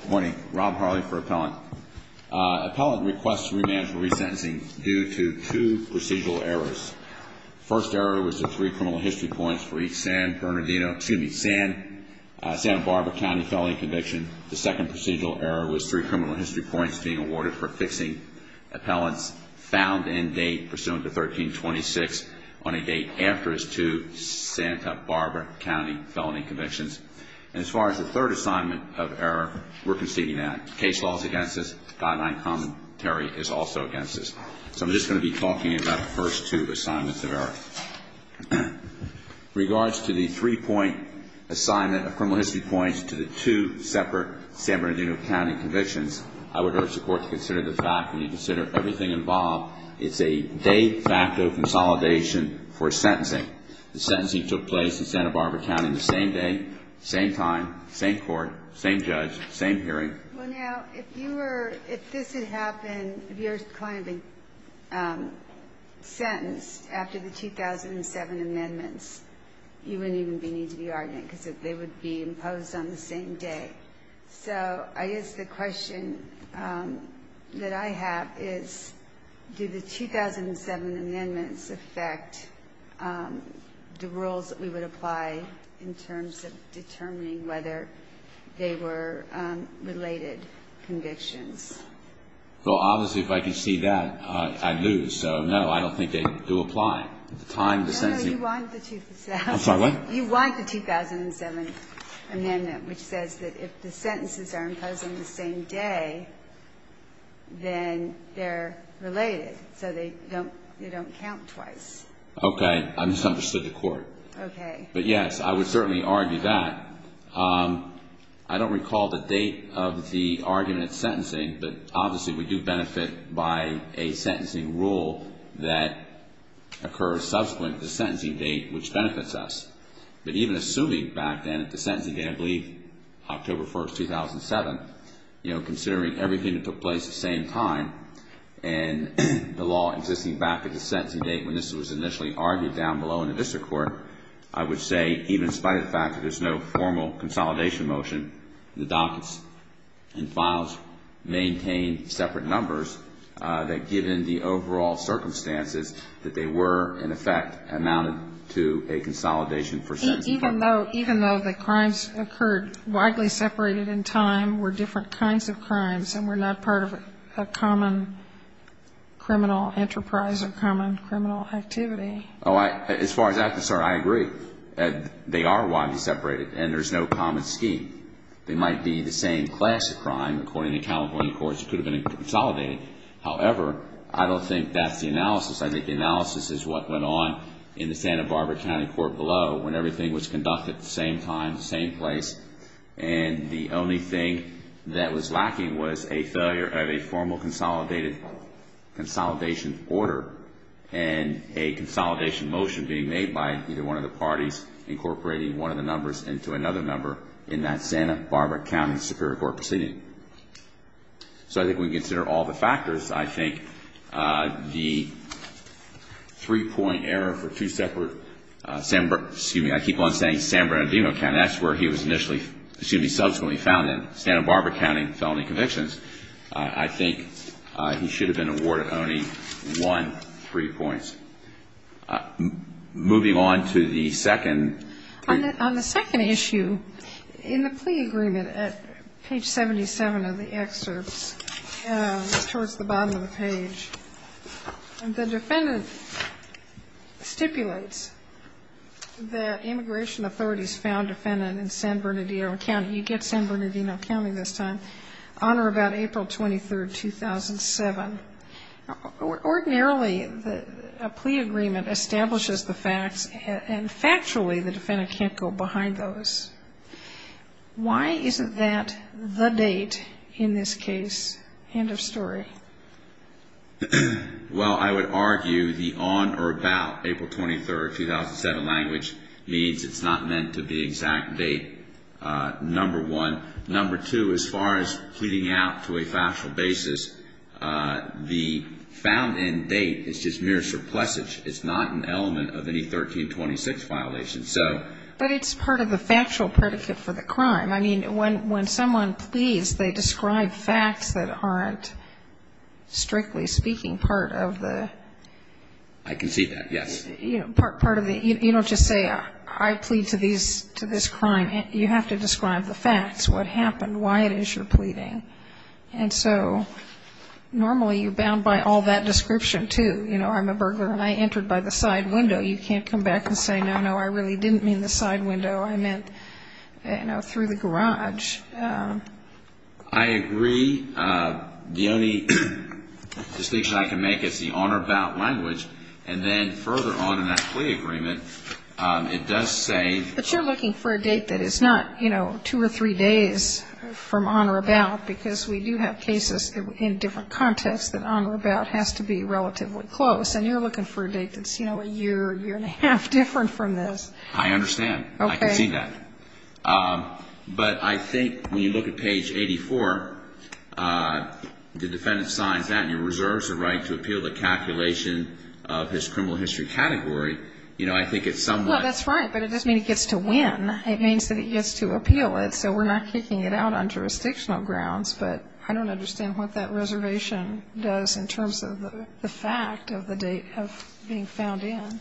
Good morning. Rob Harley for Appellant. Appellant requests remand for resentencing due to two procedural errors. First error was the three criminal history points for each San Bernardino excuse me, Santa Barbara County felony conviction. The second procedural error was three criminal history points being awarded for fixing appellants found in date pursuant to 1326 on a date after his two Santa Barbara County felony convictions. And as far as the third assignment of error, we're conceding that. Case law is against us. Guideline commentary is also against us. So I'm just going to be talking about the first two assignments of error. In regards to the three point assignment of criminal history points to the two separate San Bernardino County convictions, I would urge the court to consider the fact when you consider everything involved, it's a de facto consolidation for sentencing. The sentencing took place in Santa Barbara County the same day, same time, same court, same judge, same hearing. Well now, if you were, if this had happened, if you were to be sentenced after the 2007 amendments, you wouldn't even need to be arguing because they would be imposed on the same day. So I guess the question that I have is, do the 2007 amendments affect the rules that we would apply in terms of determining whether they were related convictions? Well, obviously, if I could see that, I'd lose. So, no, I don't think they do apply. No, no, you want the 2007. I'm sorry, what? You want the 2007 amendment, which says that if the sentences are imposed on the same day, then they're related. So they don't count twice. Okay. I misunderstood the court. Okay. But yes, I would certainly argue that. I don't recall the date of the argument sentencing, but obviously we do benefit by a sentencing rule that occurs subsequent to the sentencing date, which benefits us. But even assuming back then that the sentencing date, I believe October 1, 2007, considering everything that took place at the same time and the law existing back at the sentencing date when this was initially argued down below in the district court, I would say even in spite of the fact that there's no formal consolidation motion, the dockets and files maintain separate numbers, that given the overall circumstances that they were, in effect, amounted to a consolidation for sentencing. Even though the crimes occurred widely separated in time were different kinds of crimes and were not part of a common criminal enterprise or common criminal activity. As far as that's concerned, I agree. They are widely separated and there's no common scheme. They might be the same class of crime, according to California courts, that could have been consolidated. However, I don't think that's the analysis. I think the analysis is what went on in the Santa Barbara County Court below when everything was conducted at the same time, the same place, and the only thing that was lacking was a failure of a formal consolidation order and a consolidation motion being made by either one of the parties incorporating one of the numbers into another number in that Santa Barbara County Superior Court proceeding. So I think we can consider all the factors. I think the three-point error for two separate, excuse me, I keep on saying San Bernardino County. That's where he was initially, excuse me, subsequently found in Santa Barbara County felony convictions. I think he should have been awarded only one free point. Moving on to the second. On the second issue, in the plea agreement at page 77 of the excerpts, towards the bottom of the page, the defendant stipulates that immigration authorities found defendant in San Bernardino County. You get San Bernardino County this time. On or about April 23, 2007. Ordinarily, a plea agreement establishes the facts, and factually, the defendant can't go behind those. Why isn't that the date in this case? End of story. Well, I would argue the on or about April 23, 2007 language means it's not meant to be exact date number one. Number two, as far as pleading out to a factual basis, the found in date is just mere surplusage. It's not an element of any 1326 violation. But it's part of the factual predicate for the crime. I mean, when someone pleads, they describe facts that aren't, strictly speaking, part of the... I can see that, yes. You don't just say, I plead to this crime. You have to describe the facts, what happened, why it is you're pleading. And so normally, you're bound by all that description, too. You know, I'm a burglar, and I entered by the side window. You can't come back and say, no, no, I really didn't mean the side window. I meant, you know, through the garage. I agree. The only distinction I can make is the on or about language. And then further on in that plea agreement, it does say... But you're looking for a date that is not, you know, two or three days from on or about, because we do have cases in different contexts that on or about has to be relatively close. And you're looking for a date that's, you know, a year, year and a half different from this. I understand. Okay. I can see that. But I think when you look at page 84, the defendant signs that, and he reserves the right to appeal the calculation of his criminal history category. You know, I think it's somewhat... Well, that's right, but it doesn't mean he gets to win. It means that he gets to appeal it. So we're not kicking it out on jurisdictional grounds, but I don't understand what that reservation does in terms of the fact of the date of being found in.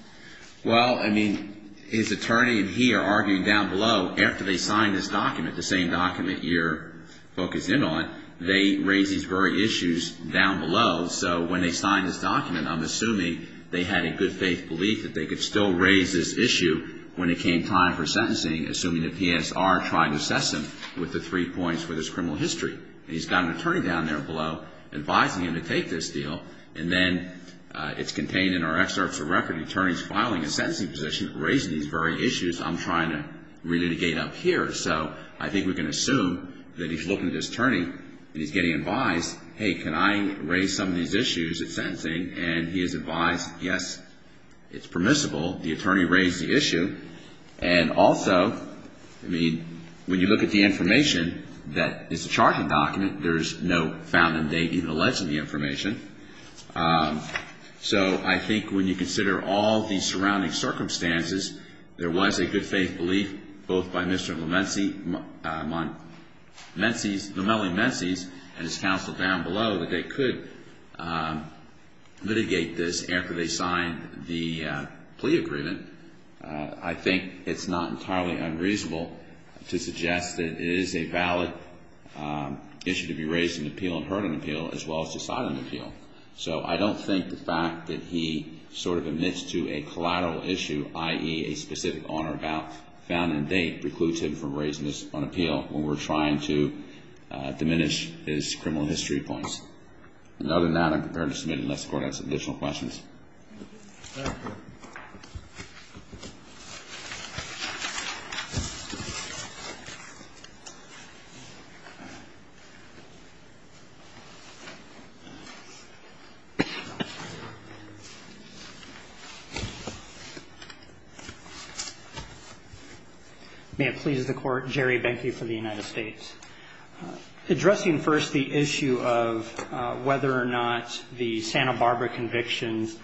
Well, I mean, his attorney and he are arguing down below, after they sign this document, the same document your book is in on, they raise these very issues down below. So when they sign this document, I'm assuming they had a good faith belief that they could still raise this issue when it came time for sentencing, assuming the PSR tried to assess him with the three points for his criminal history. And he's got an attorney down there below advising him to take this deal. And then it's contained in our excerpts of record. The attorney's filing a sentencing position, raising these very issues. I'm trying to re-litigate up here. So I think we can assume that he's looking at his attorney and he's getting advised, hey, can I raise some of these issues at sentencing? And he is advised, yes, it's permissible. The attorney raised the issue. And also, I mean, when you look at the information, that it's a charging document. There's no found in dating alleging the information. So I think when you consider all the surrounding circumstances, there was a good faith belief both by Mr. Lomeli-Menses and his counsel down below that they could litigate this after they signed the plea agreement. I think it's not entirely unreasonable to suggest that it is a valid issue to be raised in appeal and heard on appeal as well as decided on appeal. So I don't think the fact that he sort of admits to a collateral issue, i.e., a specific on or about found in a date precludes him from raising this on appeal when we're trying to diminish his criminal history points. And other than that, I'm prepared to submit unless the Court has additional questions. Thank you. May it please the Court, Jerry Benke for the United States. Addressing first the issue of whether or not the Santa Barbara convictions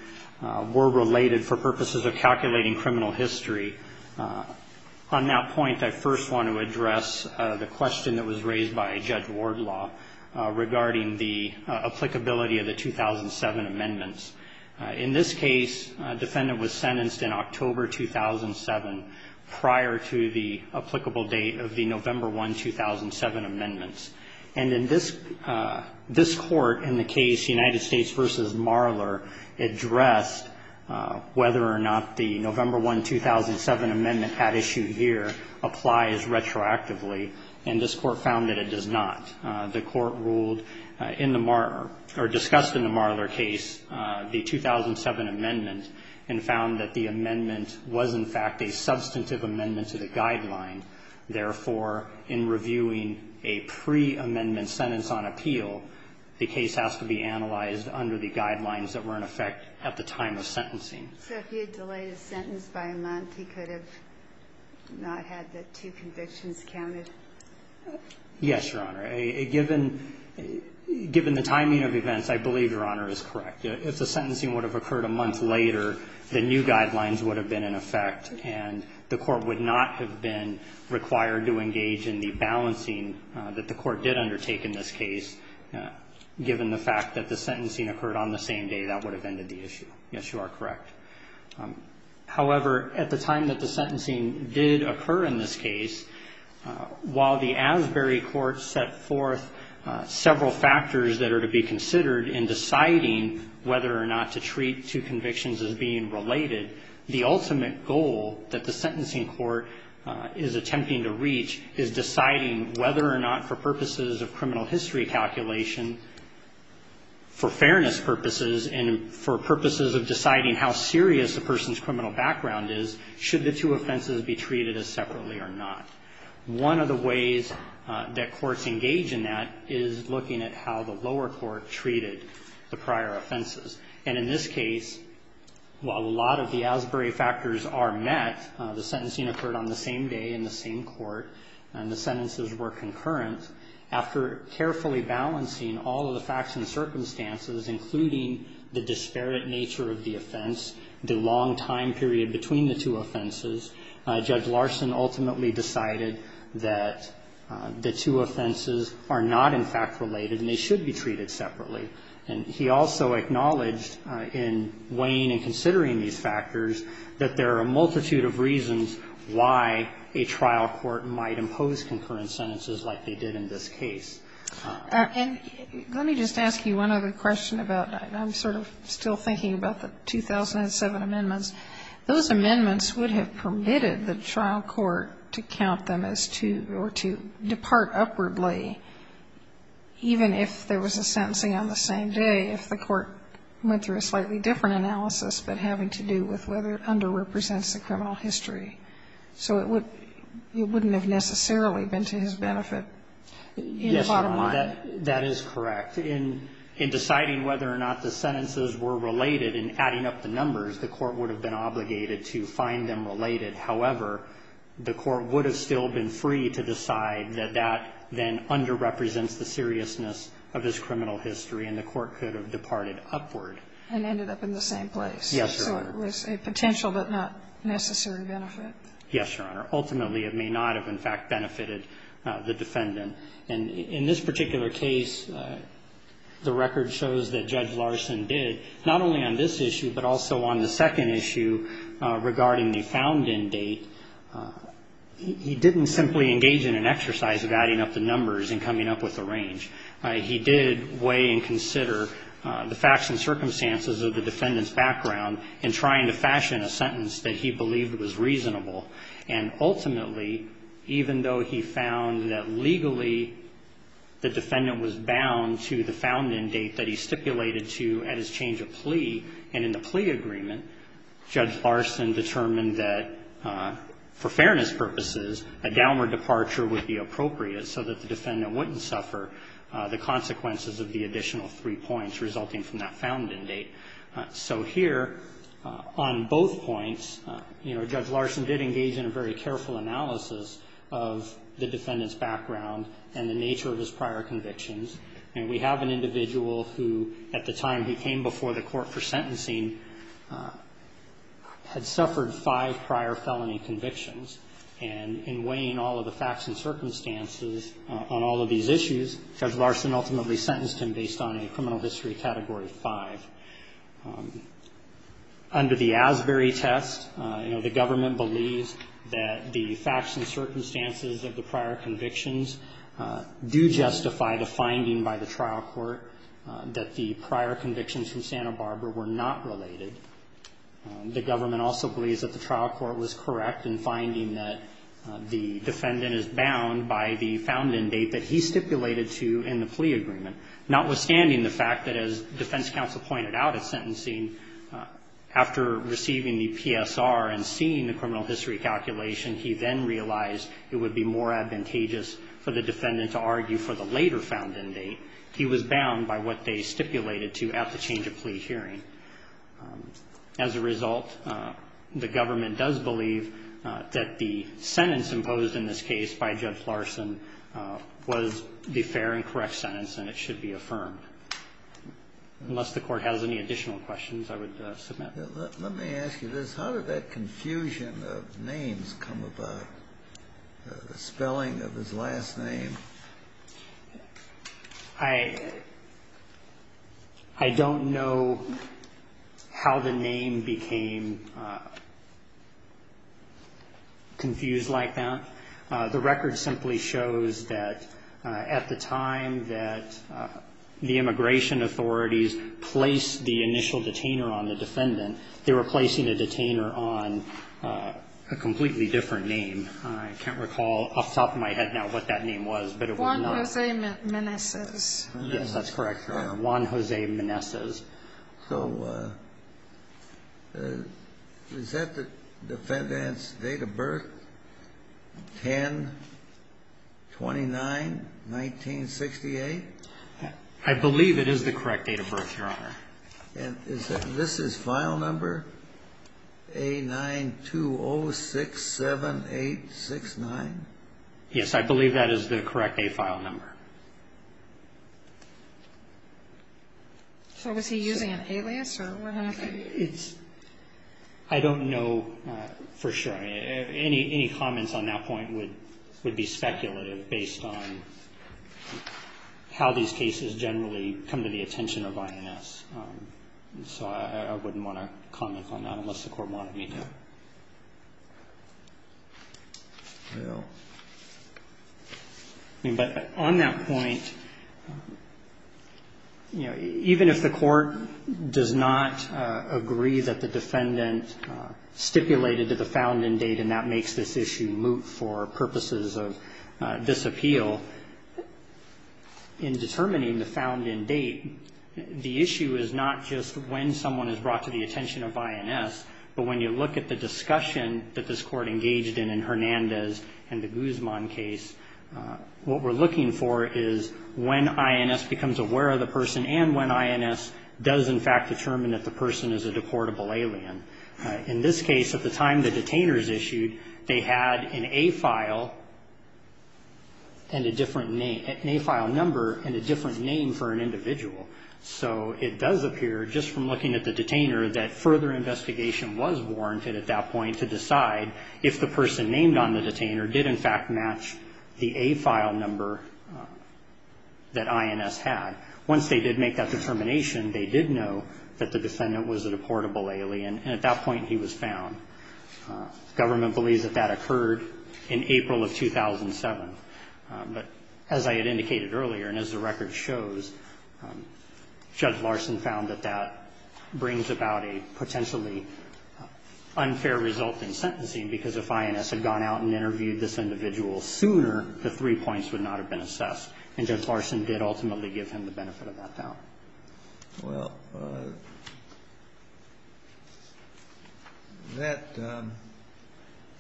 were related for purposes of calculating criminal history, on that point I first want to address the question that was raised by Judge Wardlaw regarding the applicability of the 2007 amendments. In this case, a defendant was sentenced in October 2007 prior to the applicable date of the November 1, 2007 amendments. And in this court, in the case United States v. Marler, addressed whether or not the November 1, 2007 amendment had issued here applies retroactively. And this Court found that it does not. The Court ruled in the Marler or discussed in the Marler case the 2007 amendment and found that the amendment was, in fact, a substantive amendment to the guideline. Therefore, in reviewing a pre-amendment sentence on appeal, the case has to be analyzed under the guidelines that were in effect at the time of sentencing. So if he had delayed his sentence by a month, he could have not had the two convictions counted? Yes, Your Honor. Given the timing of events, I believe Your Honor is correct. If the sentencing would have occurred a month later, the new guidelines would have been in effect and the Court would not have been required to engage in the balancing that the Court did undertake in this case. Given the fact that the sentencing occurred on the same day, that would have ended the issue. Yes, you are correct. However, at the time that the sentencing did occur in this case, while the Asbury Court set forth several factors that are to be considered in deciding whether or not to treat two convictions as being related, the ultimate goal that the sentencing court is attempting to reach is deciding whether or not for purposes of criminal history calculation, for fairness purposes, and for purposes of deciding how serious a person's criminal background is, should the two offenses be treated as separately or not. One of the ways that courts engage in that is looking at how the lower court treated the prior offenses. And in this case, while a lot of the Asbury factors are met, the sentencing occurred on the same day in the same court and the sentences were concurrent. After carefully balancing all of the facts and circumstances, including the disparate nature of the offense, the long time period between the two offenses, Judge Larson ultimately decided that the two offenses are not in fact related and they should be treated separately. And he also acknowledged in weighing and considering these factors that there are a multitude of reasons why a trial court might impose concurrent sentences like they did in this case. And let me just ask you one other question about that. I'm sort of still thinking about the 2007 amendments. Those amendments would have permitted the trial court to count them as two or to depart upwardly, even if there was a sentencing on the same day, if the court went through a slightly different analysis but having to do with whether it underrepresents the criminal history. So it wouldn't have necessarily been to his benefit in the bottom line. Yes, Your Honor, that is correct. In deciding whether or not the sentences were related and adding up the numbers, the court would have been obligated to find them related. However, the court would have still been free to decide that that then underrepresents the seriousness of his criminal history and the court could have departed upward. And ended up in the same place. Yes, Your Honor. So it was a potential but not necessary benefit. Yes, Your Honor. Ultimately, it may not have in fact benefited the defendant. And in this particular case, the record shows that Judge Larson did not only on this issue but also on the second issue regarding the found-in date. He didn't simply engage in an exercise of adding up the numbers and coming up with a range. He did weigh and consider the facts and circumstances of the defendant's background in trying to fashion a sentence that he believed was reasonable. And ultimately, even though he found that legally the defendant was bound to the found-in date that he stipulated to at his change of plea and in the plea agreement, Judge Larson determined that for fairness purposes, a downward departure would be appropriate so that the defendant wouldn't suffer the consequences of the additional three points resulting from that found-in date. So here on both points, you know, Judge Larson did engage in a very careful analysis of the defendant's background and the nature of his prior convictions. And we have an individual who, at the time he came before the court for sentencing, had suffered five prior felony convictions. And in weighing all of the facts and circumstances on all of these issues, Judge Larson ultimately sentenced him based on a criminal history Category 5. Under the Asbury test, you know, the government believes that the facts and circumstances of the prior convictions do justify the finding by the trial court that the prior convictions from Santa Barbara were not related. The government also believes that the trial court was correct in finding that the defendant is bound by the found-in date that he stipulated to in the plea agreement, notwithstanding the fact that, as defense counsel pointed out at sentencing, after receiving the PSR and seeing the criminal history calculation, he then realized it would be more advantageous for the defendant to argue for the later found-in date. He was bound by what they stipulated to at the change-of-plea hearing. As a result, the government does believe that the sentence imposed in this case by Judge Larson was the fair and correct sentence, and it should be affirmed. Unless the Court has any additional questions, I would submit. Let me ask you this. How did that confusion of names come about, the spelling of his last name? I don't know how the name became confused like that. The record simply shows that at the time that the immigration authorities placed the initial detainer on the defendant, they were placing a detainer on a completely different name. I can't recall off the top of my head now what that name was, but it was known. Juan Jose Meneses. Yes, that's correct, Juan Jose Meneses. So is that the defendant's date of birth, 10-29-1968? I believe it is the correct date of birth, Your Honor. And this is file number A-9-2-0-6-7-8-6-9? Yes, I believe that is the correct date file number. So was he using an alias, or what happened? I don't know for sure. Any comments on that point would be speculative based on how these cases generally come to the attention of INS. So I wouldn't want to comment on that unless the Court wanted me to. But on that point, even if the Court does not agree that the defendant stipulated that the found in date and that makes this issue moot for purposes of disappeal, in determining the found in date, the issue is not just when someone is brought to the attention of INS, but when you look at the discussion that this Court engaged in in Hernandez and the Guzman case, what we're looking for is when INS becomes aware of the person and when INS does in fact determine that the person is a deportable alien. In this case, at the time the detainer is issued, they had an A-file number and a different name for an individual. So it does appear just from looking at the detainer that further investigation was warranted at that point to decide if the person named on the detainer did in fact match the A-file number that INS had. Once they did make that determination, they did know that the defendant was a deportable alien, and at that point he was found. Government believes that that occurred in April of 2007. But as I had indicated earlier and as the record shows, Judge Larson found that that brings about a potentially unfair result in sentencing, because if INS had gone out and interviewed this individual sooner, the three points would not have been assessed. And Judge Larson did ultimately give him the benefit of that doubt. Well, that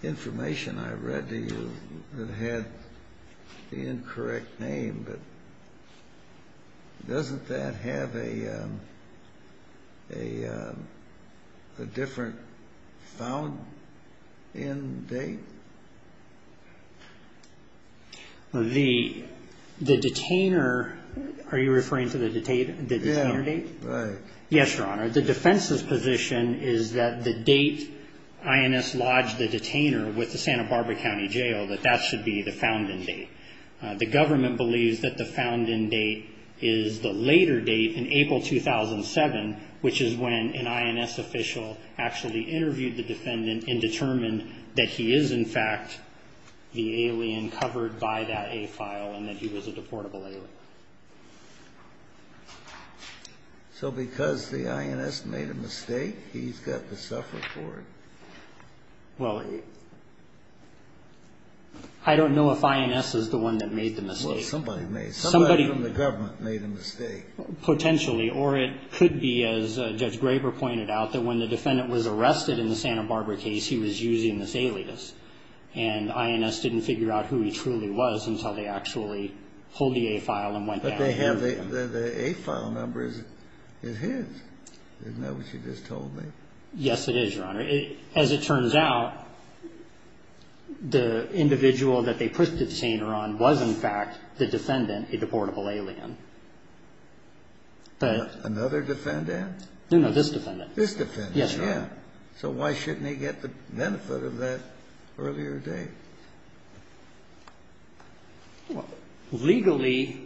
information I read to you that had the incorrect name, doesn't that have a different found-in date? The detainer, are you referring to the detainer date? Yes, Your Honor. The defense's position is that the date INS lodged the detainer with the Santa Barbara County Jail, that that should be the found-in date. The government believes that the found-in date is the later date in April 2007, which is when an INS official actually interviewed the defendant and determined that he is in fact the alien covered by that A file and that he was a deportable alien. So because the INS made a mistake, he's got to suffer for it? Well, I don't know if INS is the one that made the mistake. Well, somebody made it. Somebody from the government made a mistake. Potentially. Or it could be, as Judge Graber pointed out, that when the defendant was arrested in the Santa Barbara case, he was using this alias. And INS didn't figure out who he truly was until they actually pulled the A file and went down. But they have the A file number is his. Isn't that what you just told me? Yes, it is, Your Honor. As it turns out, the individual that they put the detainer on was in fact the defendant, a deportable alien. Another defendant? No, no, this defendant. This defendant. Yes, Your Honor. So why shouldn't he get the benefit of that earlier date? Well, legally,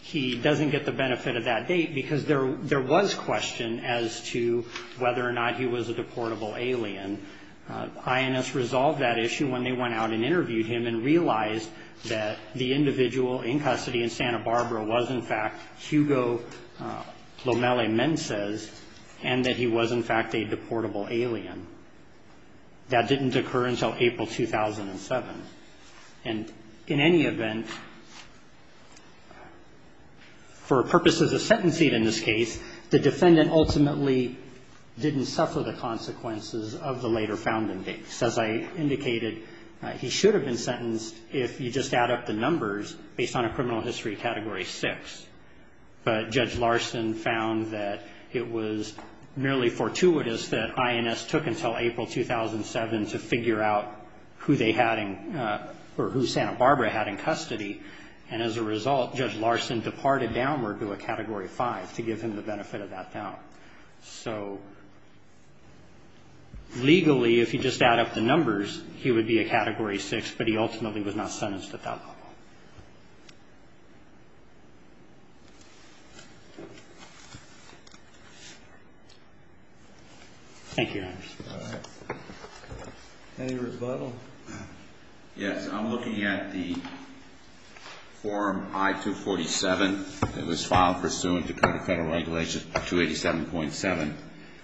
he doesn't get the benefit of that date because there was question as to whether or not he was a deportable alien. INS resolved that issue when they went out and interviewed him and realized that the individual in custody in Santa Barbara was, in fact, Hugo Lomele Mences and that he was, in fact, a deportable alien. That didn't occur until April 2007. And in any event, for purposes of sentencing in this case, the defendant ultimately didn't suffer the consequences of the later found indictments. As I indicated, he should have been sentenced if you just add up the numbers based on a criminal history Category 6. But Judge Larson found that it was merely fortuitous that INS took until April 2007 to figure out who they had in or who Santa Barbara had in custody. And as a result, Judge Larson departed downward to a Category 5 to give him the benefit of that doubt. So legally, if you just add up the numbers, he would be a Category 6, but he ultimately was not sentenced at that level. Thank you, Your Honor. Any rebuttal? Yes, I'm looking at the form I-247. It was filed pursuant to Code of Federal Regulations 287.7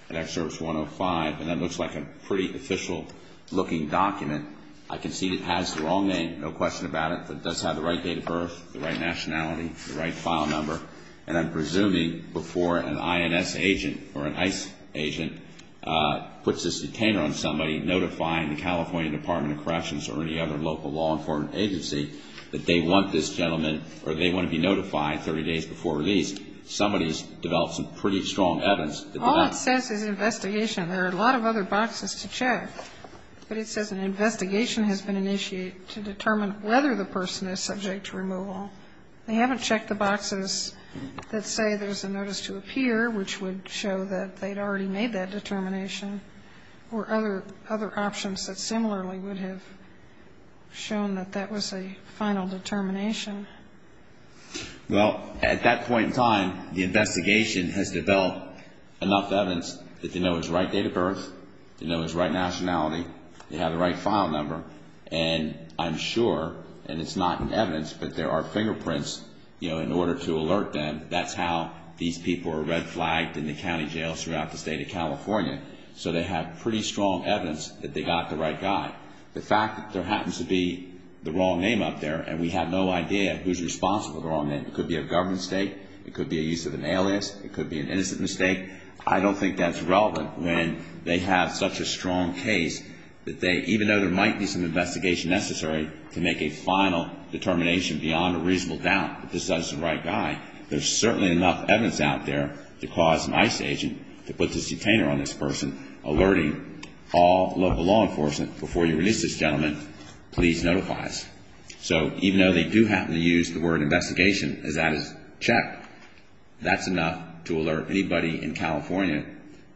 and Excerpt 105. And that looks like a pretty official-looking document. I can see it has the wrong name, no question about it, but it does have the right date of birth, the right nationality, the right file number. And I'm presuming before an INS agent or an ICE agent puts this detainer on somebody notifying the California Department of Corrections or any other local law enforcement agency that they want this gentleman or they want to be notified 30 days before release, somebody has developed some pretty strong evidence. All it says is investigation. There are a lot of other boxes to check, but it says an investigation has been initiated to determine whether the person is subject to removal. They haven't checked the boxes that say there's a notice to appear, which would show that they'd already made that determination, or other options that similarly would have shown that that was a final determination. Well, at that point in time, the investigation has developed enough evidence that they know it's the right date of birth, they know it's the right nationality, they have the right file number, and I'm sure, and it's not in evidence, but there are fingerprints, you know, in order to alert them. That's how these people are red flagged in the county jails throughout the state of California. So they have pretty strong evidence that they got the right guy. The fact that there happens to be the wrong name up there and we have no idea who's responsible for the wrong name. It could be a government mistake. It could be a use of an alias. It could be an innocent mistake. I don't think that's relevant when they have such a strong case that they, even though there might be some investigation necessary to make a final determination beyond a reasonable doubt that this is the right guy, there's certainly enough evidence out there to cause an ICE agent to put this detainer on this person, alerting all local law enforcement, before you release this gentleman, please notify us. So even though they do happen to use the word investigation as that is checked, that's enough to alert anybody in California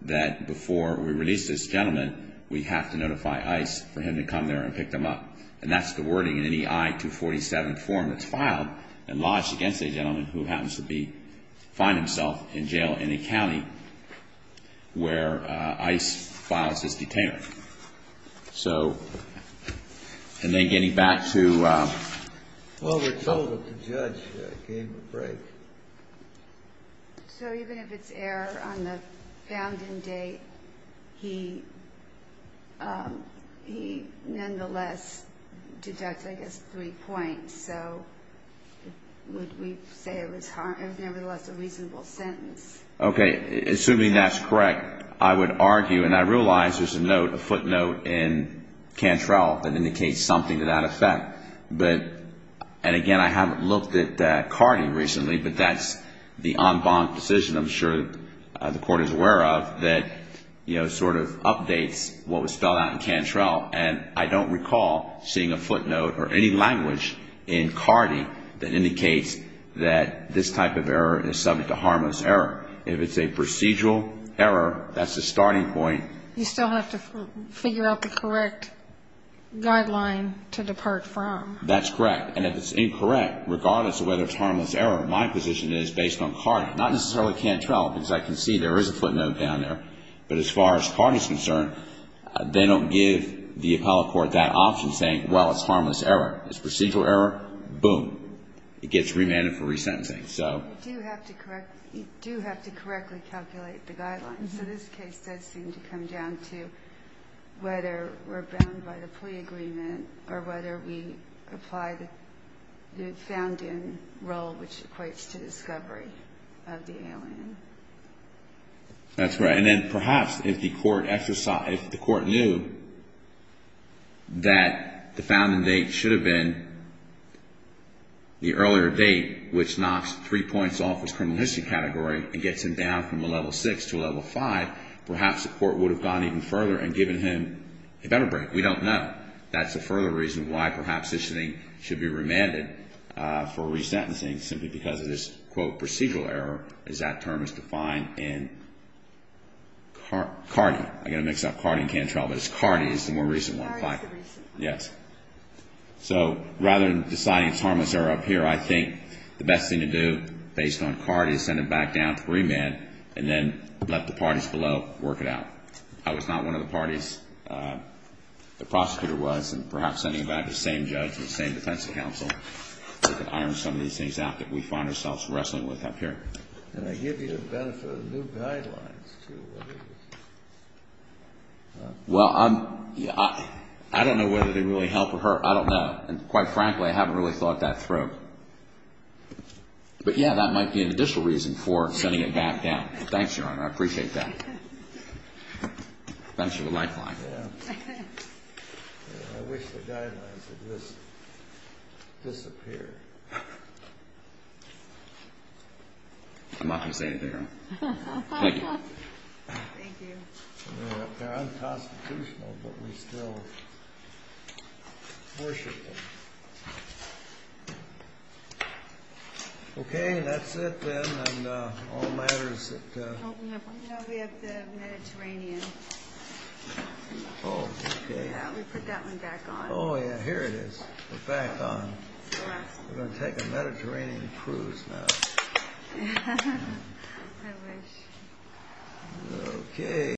that before we release this gentleman, we have to notify ICE for him to come there and pick them up. And that's the wording in any I-247 form that's filed and lodged against a gentleman who happens to find himself in jail in a county where ICE files this detainer. So, and then getting back to... Well, we're told that the judge gave a break. So even if it's error on the found-in date, he nonetheless deducted, I guess, three points. So would we say it was nevertheless a reasonable sentence? Okay. Assuming that's correct, I would argue, and I realize there's a footnote in Cantrell that indicates something to that effect. And again, I haven't looked at CARTI recently, but that's the en banc decision, I'm sure the Court is aware of, that sort of updates what was spelled out in Cantrell. And I don't recall seeing a footnote or any language in CARTI that indicates that this type of error is subject to harmless error. If it's a procedural error, that's a starting point. You still have to figure out the correct guideline to depart from. That's correct. And if it's incorrect, regardless of whether it's harmless error, my position is, based on CARTI, not necessarily Cantrell, because I can see there is a footnote down there, but as far as CARTI is concerned, they don't give the appellate court that option saying, well, it's harmless error. It's procedural error, boom, it gets remanded for resentencing. You do have to correctly calculate the guidelines. So this case does seem to come down to whether we're bound by the plea agreement or whether we apply the found-in rule, which equates to discovery of the alien. That's right. And then perhaps if the court knew that the found-in date should have been the earlier date, which knocks three points off his criminal history category and gets him down from a level 6 to a level 5, perhaps the court would have gone even further and given him a better break. We don't know. That's a further reason why perhaps this thing should be remanded for resentencing, simply because of this, quote, procedural error, as that term is defined in CARTI. I'm going to mix up CARTI and Cantrell, but it's CARTI is the more recent one. CARTI is the recent one. Yes. So rather than deciding it's harmless error up here, I think the best thing to do based on CARTI is send him back down to remand and then let the parties below work it out. I was not one of the parties. The prosecutor was, and perhaps sending back the same judge and the same defense counsel could iron some of these things out that we find ourselves wrestling with up here. And I give you the benefit of the new guidelines, too. Well, I don't know whether they really help or hurt. I don't know. And quite frankly, I haven't really thought that through. But, yeah, that might be an additional reason for sending him back down. Thanks, Your Honor. I appreciate that. Thanks for the lifeline. Yeah. I wish the guidelines would just disappear. I'm not going to say anything else. Thank you. Thank you. They're unconstitutional, but we still worship them. Okay, that's it, then, on all matters. No, we have the Mediterranean. Oh, okay. Yeah, we put that one back on. Oh, yeah, here it is. We're back on. We're going to take a Mediterranean cruise now. I wish. Okay.